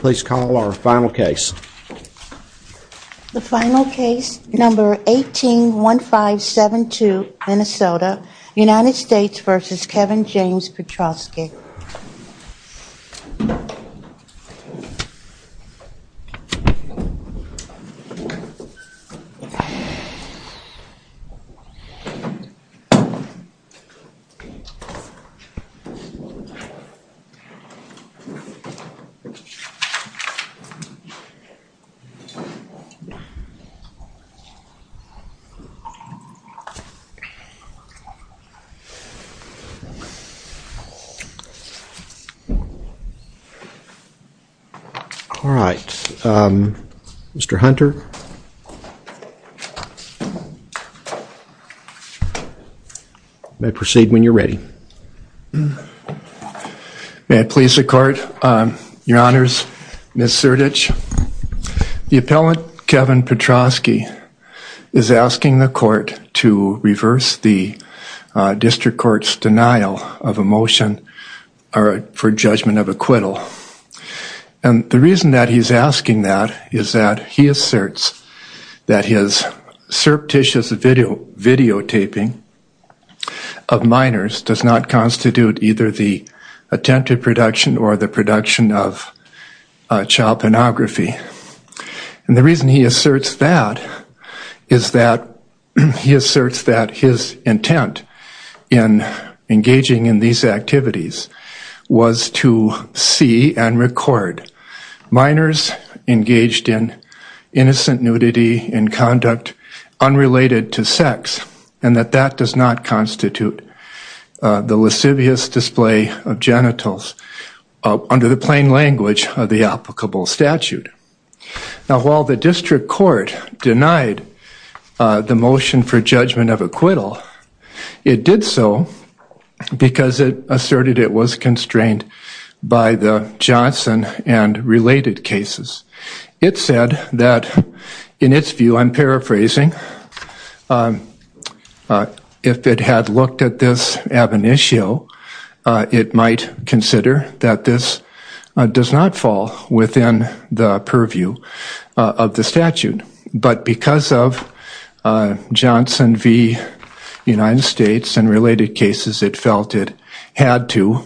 Please call our final case. The final case, number 181572, Minnesota, United States v. Kevin James Petroske. All right. Mr. Hunter, you may proceed when you're ready. May it please the court, your honors, Ms. Surdich, the appellant Kevin Petroske is asking the court to reverse the district court's denial of a motion for judgment of acquittal. And the reason that he's asking that is that he asserts that his surreptitious videotaping of minors does not constitute either the attempted production or the production of child pornography. And the reason he asserts that is that he asserts that his intent in engaging in these activities was to see and record minors engaged in innocent nudity and conduct unrelated to the lascivious display of genitals under the plain language of the applicable statute. Now, while the district court denied the motion for judgment of acquittal, it did so because it asserted it was constrained by the Johnson and related cases. It said that in its view, I'm paraphrasing, if it had looked at this ab initio, it might consider that this does not fall within the purview of the statute. But because of Johnson v. United States and related cases, it felt it had to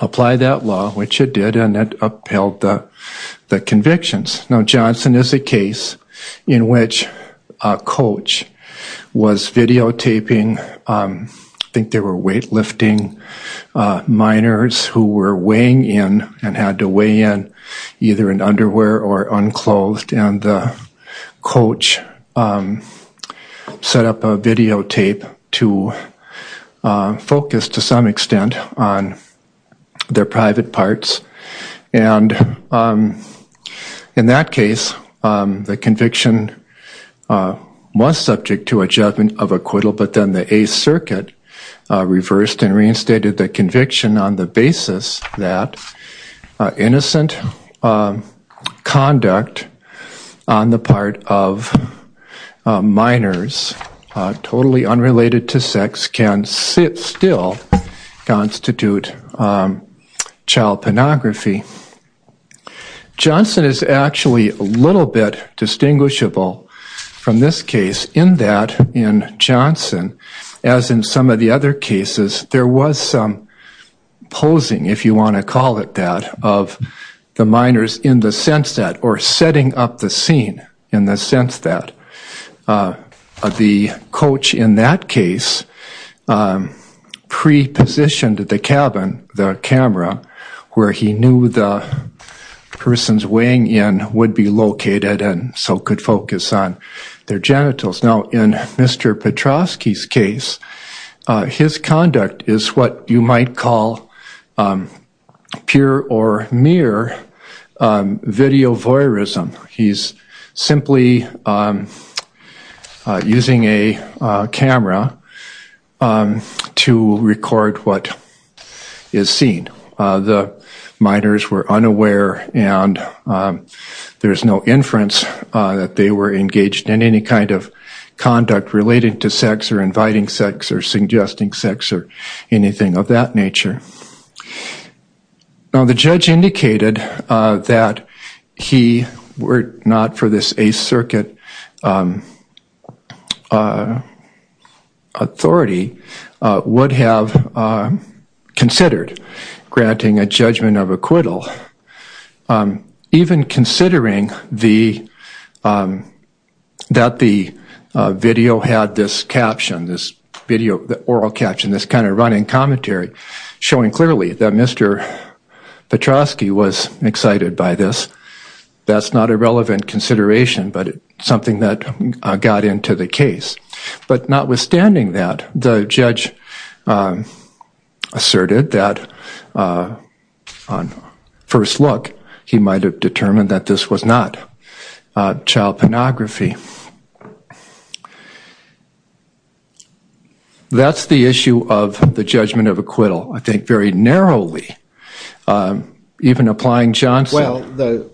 apply that and it upheld the convictions. Now, Johnson is a case in which a coach was videotaping, I think they were weightlifting minors who were weighing in and had to weigh in either in underwear or unclothed, and the private parts. And in that case, the conviction was subject to a judgment of acquittal, but then the Eighth Circuit reversed and reinstated the conviction on the basis that innocent conduct on the child pornography. Johnson is actually a little bit distinguishable from this case in that in Johnson, as in some of the other cases, there was some posing, if you want to call it that, of the minors in the sense that or setting up the scene in the sense that the coach in that case prepositioned the cabin, the camera, where he knew the person's weighing in would be located and so could focus on their genitals. Now, in Mr. Petrovsky's case, his conduct is what you might call pure or mere video voyeurism. He's simply using a camera to record what is seen. The minors were unaware and there's no inference that they were engaged in any kind of conduct related to sex or inviting sex or suggesting sex or anything of that nature. Now, the judge indicated that he were not for this Eighth Circuit authority would have considered granting a judgment of acquittal, even considering that the video had this caption, this video, the oral caption, this kind of running commentary showing clearly that Mr. Petrovsky was excited by this. That's not a relevant consideration, but something that got into the case. But notwithstanding that, the judge asserted that on first look, he might have determined that this was not child pornography. That's the issue of the judgment of acquittal, I think, very narrowly, even applying Johnson. Well,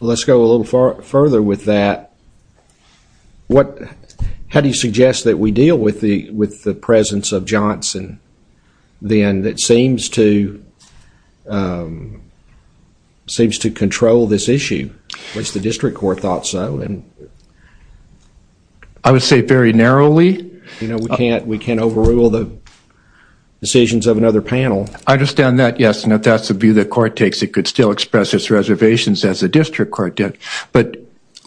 let's go a little further with that. How do you suggest that we deal with the presence of Johnson, then, that seems to control this issue, which the district court thought so? I would say very narrowly. We can't overrule the decisions of another panel. I understand that, yes. And if that's the view the court takes, it could still express its reservations as the district court did. But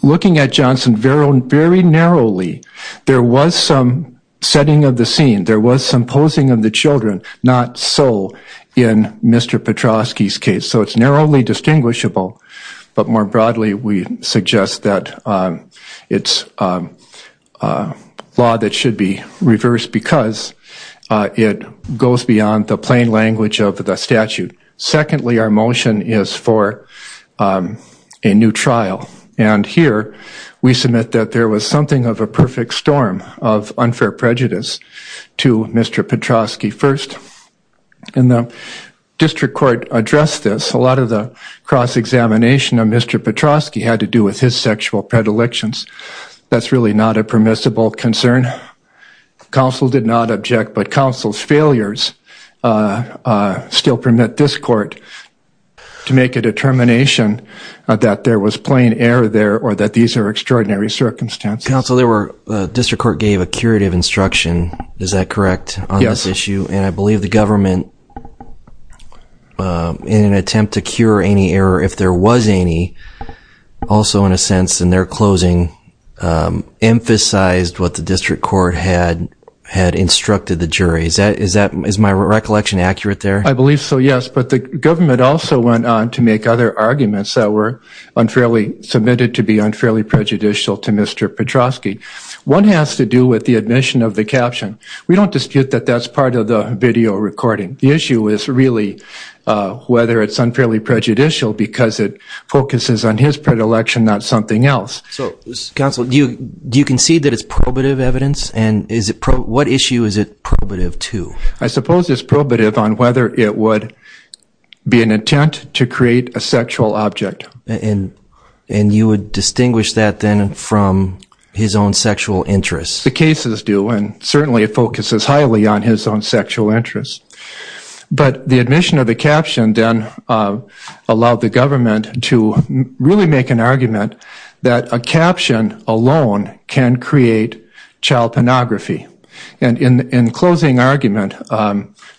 looking at Johnson very narrowly, there was some setting of the scene. There was some posing of the children. Not so in Mr. Petrovsky's case. So it's narrowly distinguishable, but more broadly, we suggest that it's a law that should be reversed because it goes beyond the plain language of the statute. Secondly, our motion is for a new trial. And here, we submit that there was something of a perfect storm of unfair prejudice to Mr. Petrovsky. And the district court addressed this. A lot of the cross-examination of Mr. Petrovsky had to do with his sexual predilections. That's really not a permissible concern. Counsel did not object, but counsel's failures still permit this court to make a determination that there was plain error there or that these are extraordinary circumstances. Counsel, the district court gave a curative instruction, is that correct, on this issue? Yes. And I believe the government, in an attempt to cure any error if there was any, also in a sense in their closing, emphasized what the district court had instructed the jury. Is my recollection accurate there? I believe so, yes. But the government also went on to make other arguments that were unfairly submitted to be unfairly prejudicial to Mr. Petrovsky. One has to do with the admission of the caption. We don't dispute that that's part of the video recording. The issue is really whether it's unfairly prejudicial because it focuses on his predilection, not something else. Counsel, do you concede that it's probative evidence? And what issue is it probative to? I suppose it's probative on whether it would be an intent to create a sexual object. And you would distinguish that then from his own sexual interest? The cases do, and certainly it focuses highly on his own sexual interest. But the admission of the caption then allowed the government to really make an argument that a caption alone can create child pornography. And in closing argument,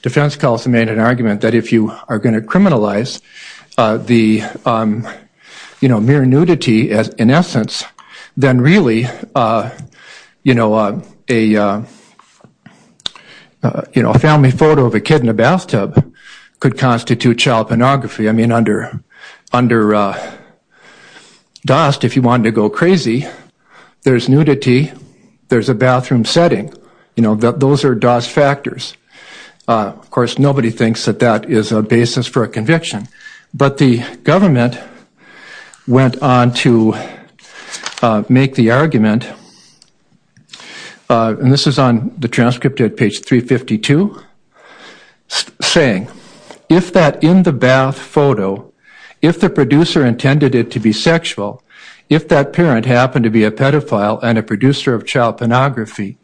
defense counsel made an argument that if you are going to criminalize the mere nudity in essence, then really a family photo of a kid in a bathtub could constitute child pornography. Under DOST, if you wanted to go crazy, there's nudity, there's a bathroom setting. Those are DOST factors. Of course, nobody thinks that that is a basis for a conviction. But the government went on to make the argument, and this is on the transcript at page 352, saying, if that in the bath photo, if the producer intended it to be sexual, if that parent happened to be a pedophile and a producer of child pornography,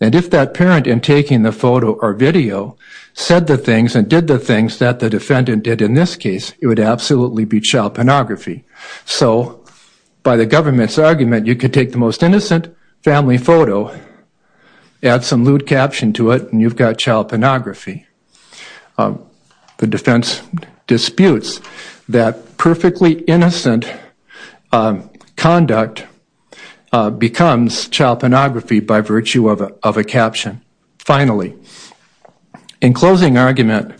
and if that parent, in taking the photo or video, said the things and did the things that the defendant did in this case, it would absolutely be child pornography. So by the government's argument, you could take the most innocent family photo, add some lewd caption to it, and you've got child pornography. The defense disputes that perfectly innocent conduct becomes child pornography by virtue of a caption. Finally, in closing argument,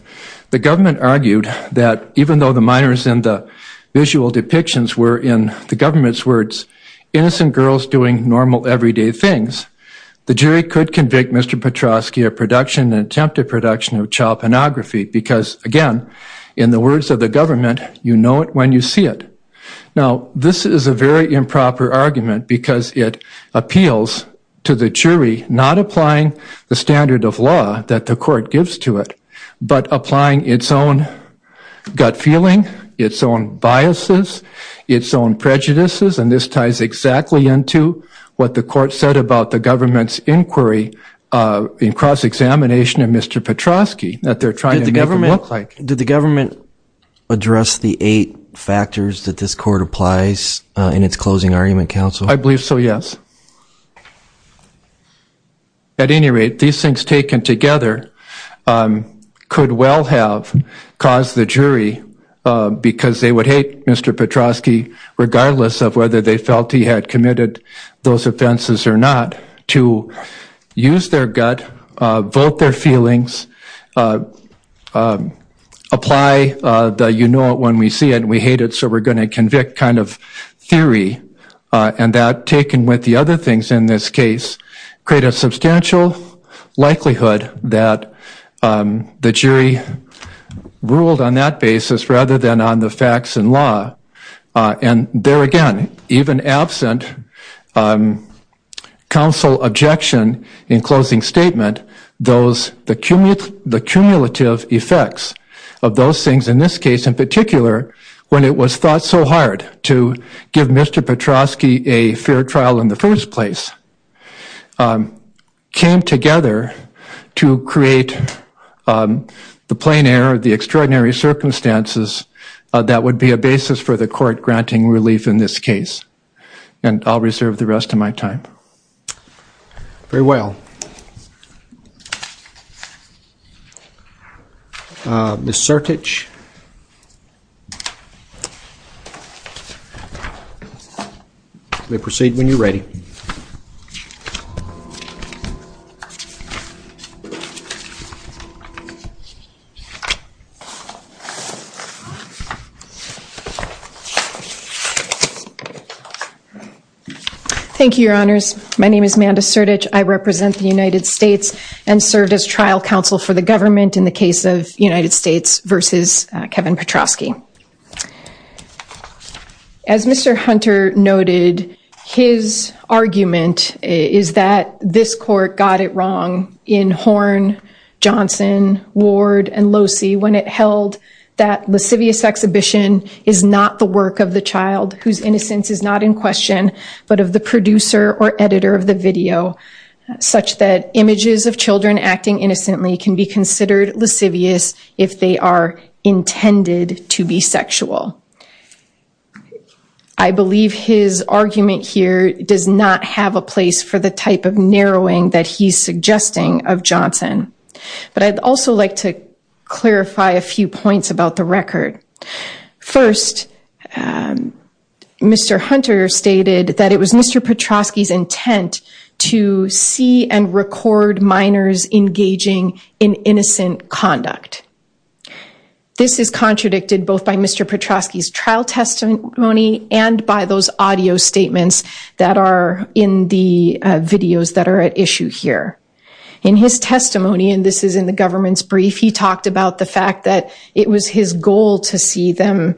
the government argued that even though the minors in the visual depictions were, in the government's words, innocent girls doing normal everyday things, the jury could convict Mr. Petroski of production and attempted production of child pornography because, again, in the words of the government, you know it when you see it. Now, this is a very improper argument because it appeals to the jury not applying the standard of law that the court gives to it, but applying its own gut feeling, its own biases, its own prejudices. And this ties exactly into what the court said about the government's inquiry in cross-examination of Mr. Petroski that they're trying to make it look like. Did the government address the eight factors that this court applies in its closing argument, counsel? I believe so, yes. At any rate, these things taken together could well have caused the jury, because they would hate Mr. Petroski regardless of whether they felt he had committed those offenses or not, to use their gut, vote their feelings, apply the you-know-it-when-we-see-it-and-we-hate-it-so-we're-going-to-convict kind of theory, and that taken with the other things in this case create a substantial likelihood that the jury ruled on that basis rather than on the facts and law. And there again, even absent counsel objection in closing statement, those, the cumulative effects of those things in this case in particular when it was thought so hard to give Mr. Petroski a fair trial in the first place came together to create the plein air, the extraordinary circumstances that would be a basis for the court granting relief in this case. And I'll reserve the rest of my time. Very well. Ms. Sertich? You may proceed when you're ready. Thank you, Your Honors. My name is Manda Sertich. I represent the United States and served as trial counsel for the government in the case of United States v. Kevin Petroski. As Mr. Hunter noted, his argument is that this court got it wrong in Horn, Johnson, Ward, and Locey when it held that license, that a lascivious exhibition is not the work of the child whose innocence is not in question, but of the producer or editor of the video such that images of children acting innocently can be considered lascivious if they are intended to be sexual. I believe his argument here does not have a place for the type of narrowing that he's suggesting of Johnson. But I'd also like to clarify a few points about the record. First, Mr. Hunter stated that it was Mr. Petroski's intent to see and record minors engaging in innocent conduct. This is contradicted both by Mr. Petroski's trial testimony and by those audio statements that are in the videos that are at issue here. In his testimony, and this is in the government's brief, he talked about the fact that it was his goal to see them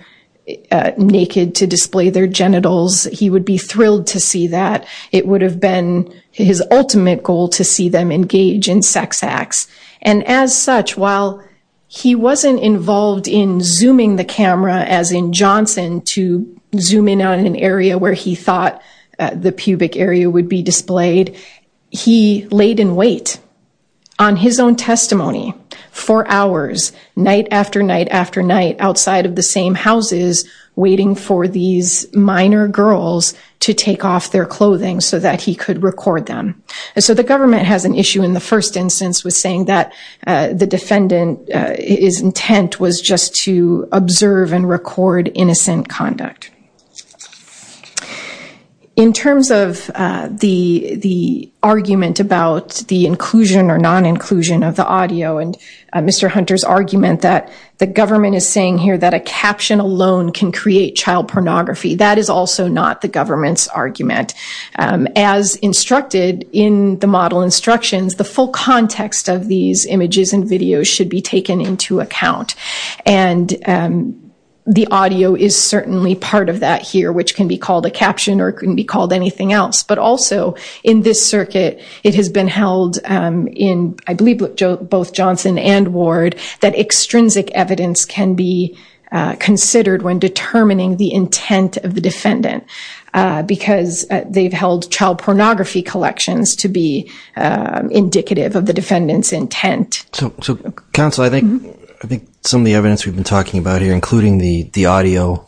naked to display their genitals. He would be thrilled to see that. It would have been his ultimate goal to see them engage in sex acts. And as such, while he wasn't involved in zooming the camera as in Johnson to zoom in on an area where he thought the pubic area would be displayed, he laid in wait on his own testimony for hours, night after night after night outside of the same houses waiting for these minor girls to take off their clothing so that he could record them. And so the government has an issue in the first instance with saying that the defendant's intent was just to observe and record innocent conduct. In terms of the argument about the inclusion or non-inclusion of the audio and Mr. Hunter's argument that the government is saying here that a caption alone can create child pornography, that is also not the government's argument. As instructed in the model instructions, the full context of these images and videos should be taken into account. And the audio is certainly part of that here, which can be called a caption or it can be called anything else. But also in this circuit, it has been held in, I believe, both Johnson and Ward, that extrinsic evidence can be considered when determining the intent of the defendant because they've held child pornography collections to be indicative of the defendant's intent. So counsel, I think some of the evidence we've been talking about here, including the audio,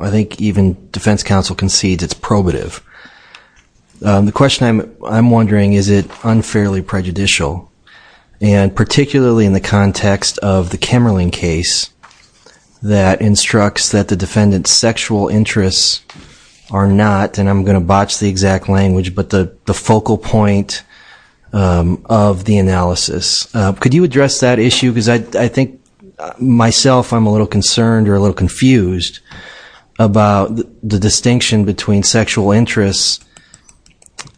I think even defense counsel concedes it's probative. The question I'm wondering, is it unfairly prejudicial? And particularly in the context of the Kemmerling case that instructs that the defendant's sexual interests are not, and I'm going to botch the exact language, but the focal point of the analysis. Could you address that issue? Because I think myself, I'm a little concerned or a little confused about the distinction between sexual interests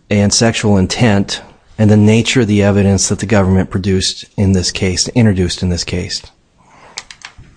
and sexual intent and the nature of the evidence that the government produced in this case, introduced in this case.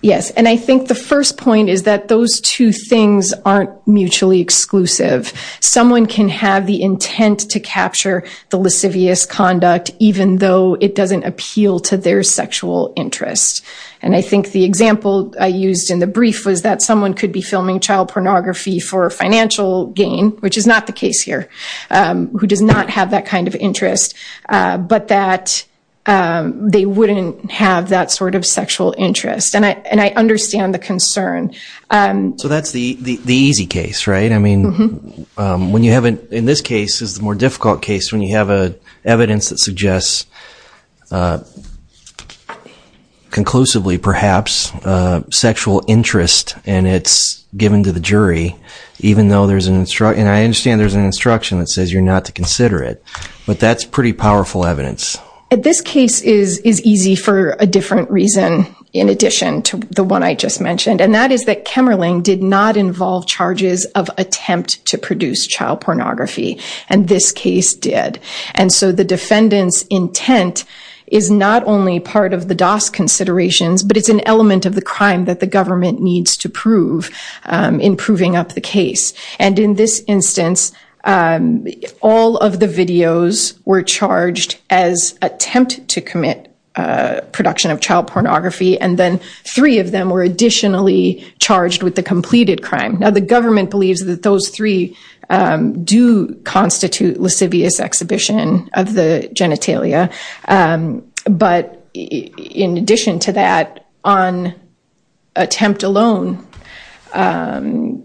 Yes, and I think the first point is that those two things aren't mutually exclusive. Someone can have the intent to capture the lascivious conduct even though it doesn't appeal to their sexual interest. And I think the example I used in the brief was that someone could be filming child pornography for financial gain, which is not the case here, who does not have that kind of interest, but that they wouldn't have that sort of sexual interest. And I understand the concern. So that's the easy case, right? In this case, it's the more difficult case when you have evidence that suggests conclusively, perhaps, sexual interest and it's given to the jury even though there's an instruction. And I understand there's an instruction that says you're not to consider it, but that's pretty powerful evidence. This case is easy for a different reason in addition to the one I just mentioned, and that is that Kemmerling did not involve charges of attempt to produce child pornography, and this case did. And so the defendant's intent is not only part of the DOS considerations, but it's an element of the crime that the government needs to prove in proving up the case. And in this instance, all of the videos were charged as attempt to commit production of child pornography, and then three of them were additionally charged with the completed crime. Now, the government believes that those three do constitute lascivious exhibition of the genitalia. But in addition to that, on attempt alone, the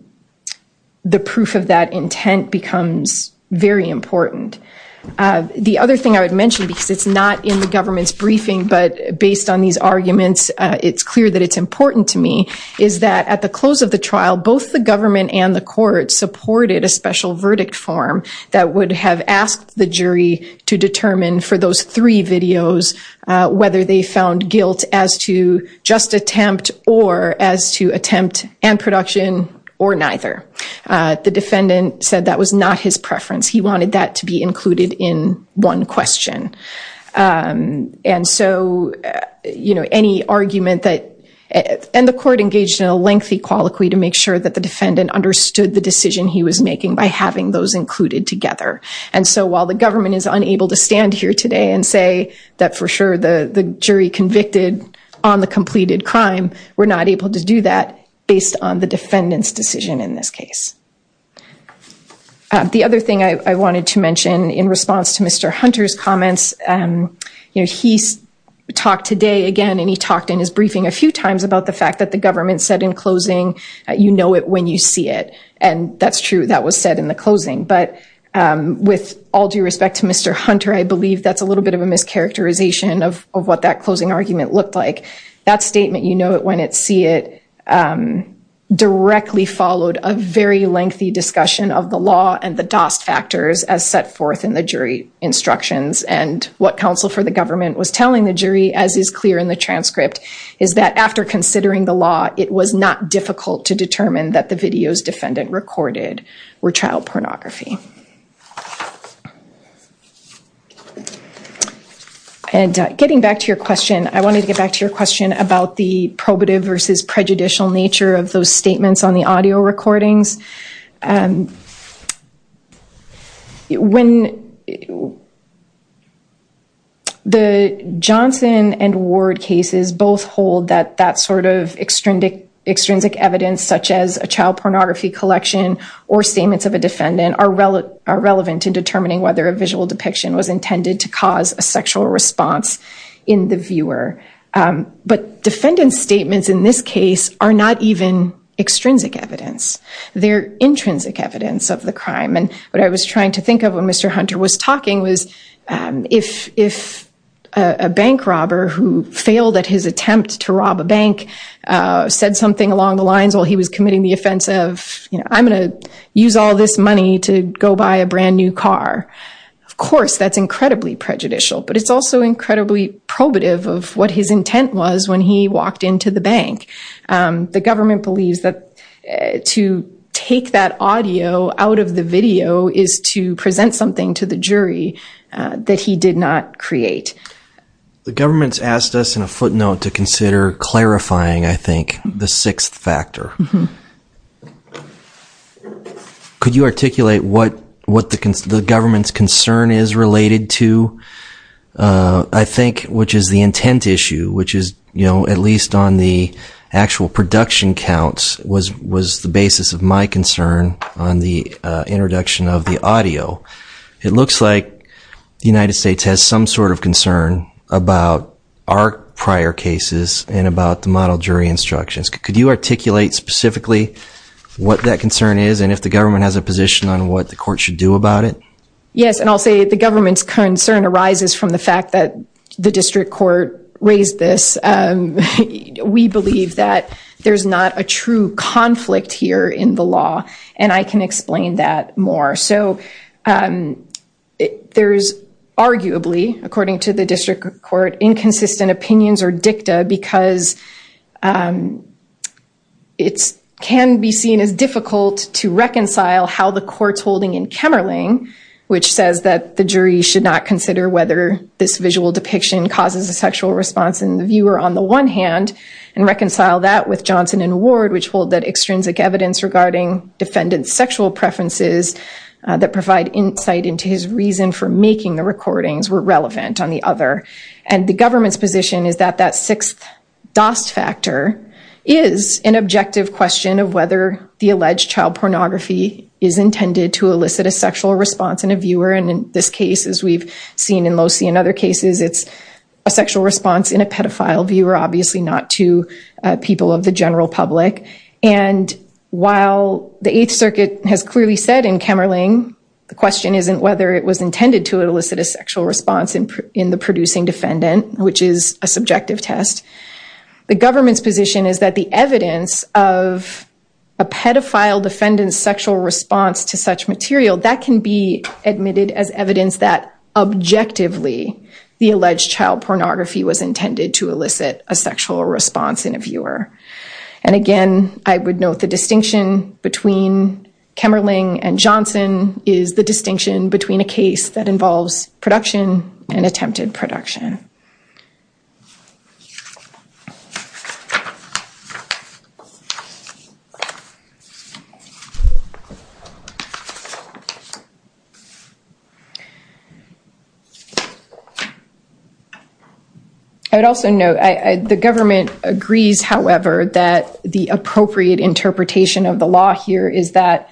proof of that intent becomes very important. The other thing I would mention, because it's not in the government's briefing, but based on these arguments, it's clear that it's important to me, is that at the close of the trial, both the government and the court supported a special verdict form that would have asked the jury to determine for those three videos whether they found guilt as to just attempt or as to attempt and production or neither. The defendant said that was not his preference. He wanted that to be included in one question. And the court engaged in a lengthy colloquy to make sure that the defendant understood the decision he was making by having those included together. And so while the government is unable to stand here today and say that for sure the jury convicted on the completed crime, we're not able to do that based on the defendant's decision in this case. The other thing I wanted to mention in response to Mr. Hunter's comments, he talked today again, and he talked in his briefing a few times about the fact that the government said in closing, you know it when you see it. And that's true. That was said in the closing. But with all due respect to Mr. Hunter, I believe that's a little bit of a mischaracterization of what that closing argument looked like. That statement, you know it when it see it, directly followed a very lengthy discussion of the law and the DOST factors as set forth in the jury instructions. And what counsel for the government was telling the jury as is clear in the transcript is that after considering the law, it was not difficult to determine that the videos defendant recorded were child pornography. And getting back to your question, I wanted to get back to your question about the probative versus prejudicial nature of those statements on the audio recordings. The Johnson and Ward cases both hold that sort of extrinsic evidence such as a child pornography collection or statements of a defendant are relevant to determining whether a visual depiction was intended to cause a sexual response in the viewer. But defendant's statements in this case are not even extrinsic evidence. They're intrinsic evidence of the crime. And what I was trying to think of when Mr. Hunter was talking was if a bank robber who failed at his attempt to rob a bank said something along the lines while he was committing the offense of, you know, I'm going to use all this money to go buy a brand new car. Of course, that's incredibly prejudicial. But it's also incredibly probative of what his intent was when he walked into the bank. The government believes that to take that audio out of the video is to present something to the jury that he did not create. The government's asked us in a footnote to consider clarifying, I think, the sixth factor. Could you articulate what the government's concern is related to? I think, which is the intent issue, which is, you know, at least on the actual production counts was the basis of my concern on the introduction of the audio. It looks like the United States has some sort of concern about our prior cases and about the model jury instructions. Could you articulate specifically what that concern is and if the government has a position on what the court should do about it? Yes, and I'll say the government's concern arises from the fact that the district court raised this. We believe that there's not a true conflict here in the law and I can explain that more. There's arguably, according to the district court, inconsistent opinions or dicta because it can be seen as difficult to reconcile how the court's holding in Kemmerling, which says that the jury should not consider whether this visual depiction causes a sexual response in the viewer on the one hand and reconcile that with Johnson and Ward which hold that extrinsic evidence regarding defendant's sexual preferences that provide insight into his reason for making the recordings were relevant on the other. And the government's position is that that sixth DOS factor is an objective question of whether the alleged child pornography is intended to elicit a sexual response in a viewer and in this case as we've seen in Loci and other cases it's a sexual response in a pedophile viewer obviously not to people of the general public and while the 8th circuit has clearly said in Kemmerling the question isn't whether it was intended to elicit a sexual response in the producing defendant which is a subjective test the government's position is that the evidence of a pedophile defendant's sexual response to such material that can be admitted as evidence that objectively the alleged child pornography was intended to elicit a sexual response in a viewer and again I would note the distinction between Kemmerling and Johnson is the distinction between a case that involves production and attempted production I would also note the government agrees however that the appropriate interpretation of the law here is that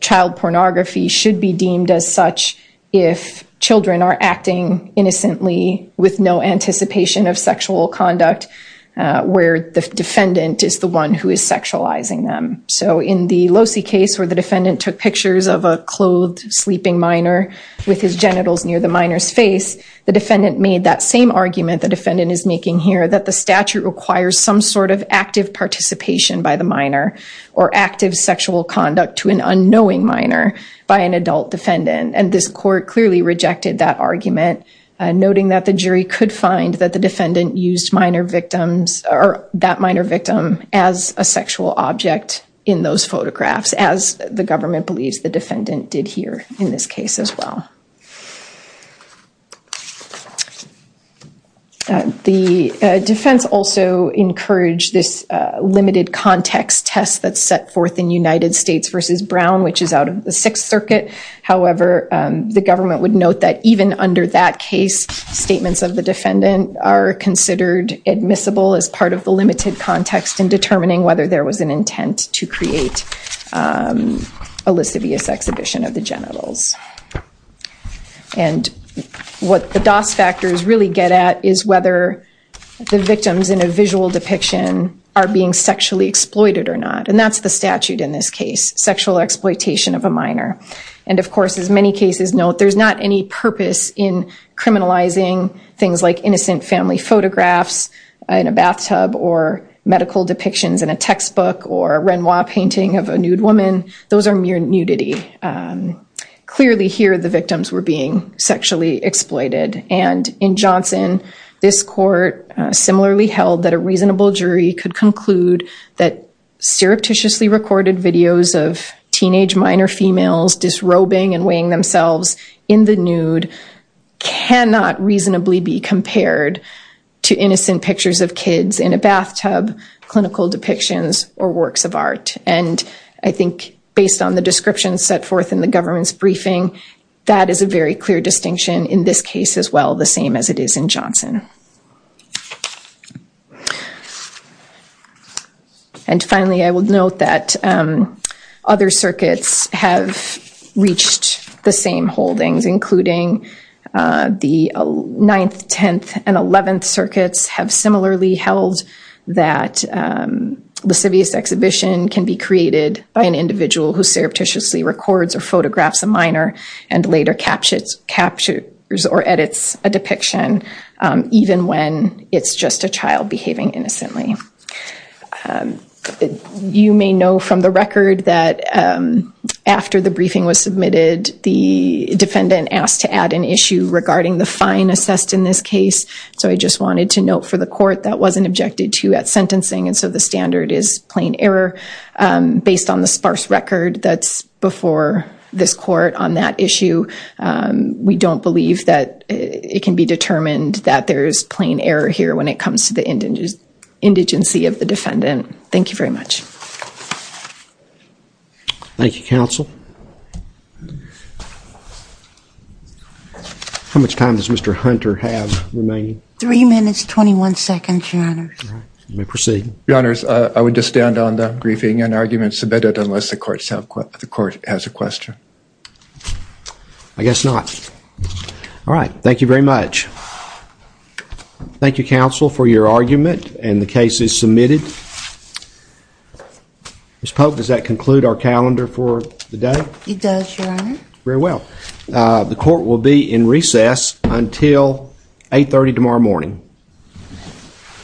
child pornography should be deemed as such if children are acting innocently with no anticipation of sexual conduct where the defendant is the one who is sexualizing them so in the Lossie case where the defendant took pictures of a clothed sleeping minor with his genitals near the minor's face the defendant made that same argument the defendant is making here that the statute requires some sort of active participation by the minor or active sexual conduct to an unknowing minor by an adult defendant and this court clearly rejected that argument noting that the jury could find that the defendant used that minor victim as a sexual object in those photographs as the government believes the defendant did here in this case as well the defense also encouraged this limited and the government would note that even under that case statements of the defendant are considered admissible as part of the limited context in determining whether there was an intent to create a sexual object in those photographs and this court similarly held that a reasonable jury could conclude that surreptitiously recorded videos of teenage minor females disrobing and weighing themselves into the victim's and this court in the nude cannot reasonably be compared to innocent pictures of kids in a bathtub clinical depictions or works of art and I think based on the description set forth in the government's briefing that is a very clear distinction in this case as well the same as it is in Johnson and finally I will note that other circuits have reached the same holdings including the 9th 10th and 11th circuits have similarly held that lascivious exhibition can be created by an individual who photographs a minor and later edits a depiction even when it's just a child behaving as child and so I just wanted to note for the court that wasn't objected to at sentencing so the standard is plain error based on the sparse record before this court on that issue we don't believe that it can be determined that there's plain error here when it comes to the indigency of the defendant thank you very much thank you counsel how much time does Mr. Hunter have remaining 3 minutes 21 seconds your honor I would just stand on the briefing unless the court has a question I guess not thank you counsel for your argument and the case is submitted does that conclude our calendar for the day it does your honor very well the court will be in recess until 830 tomorrow morning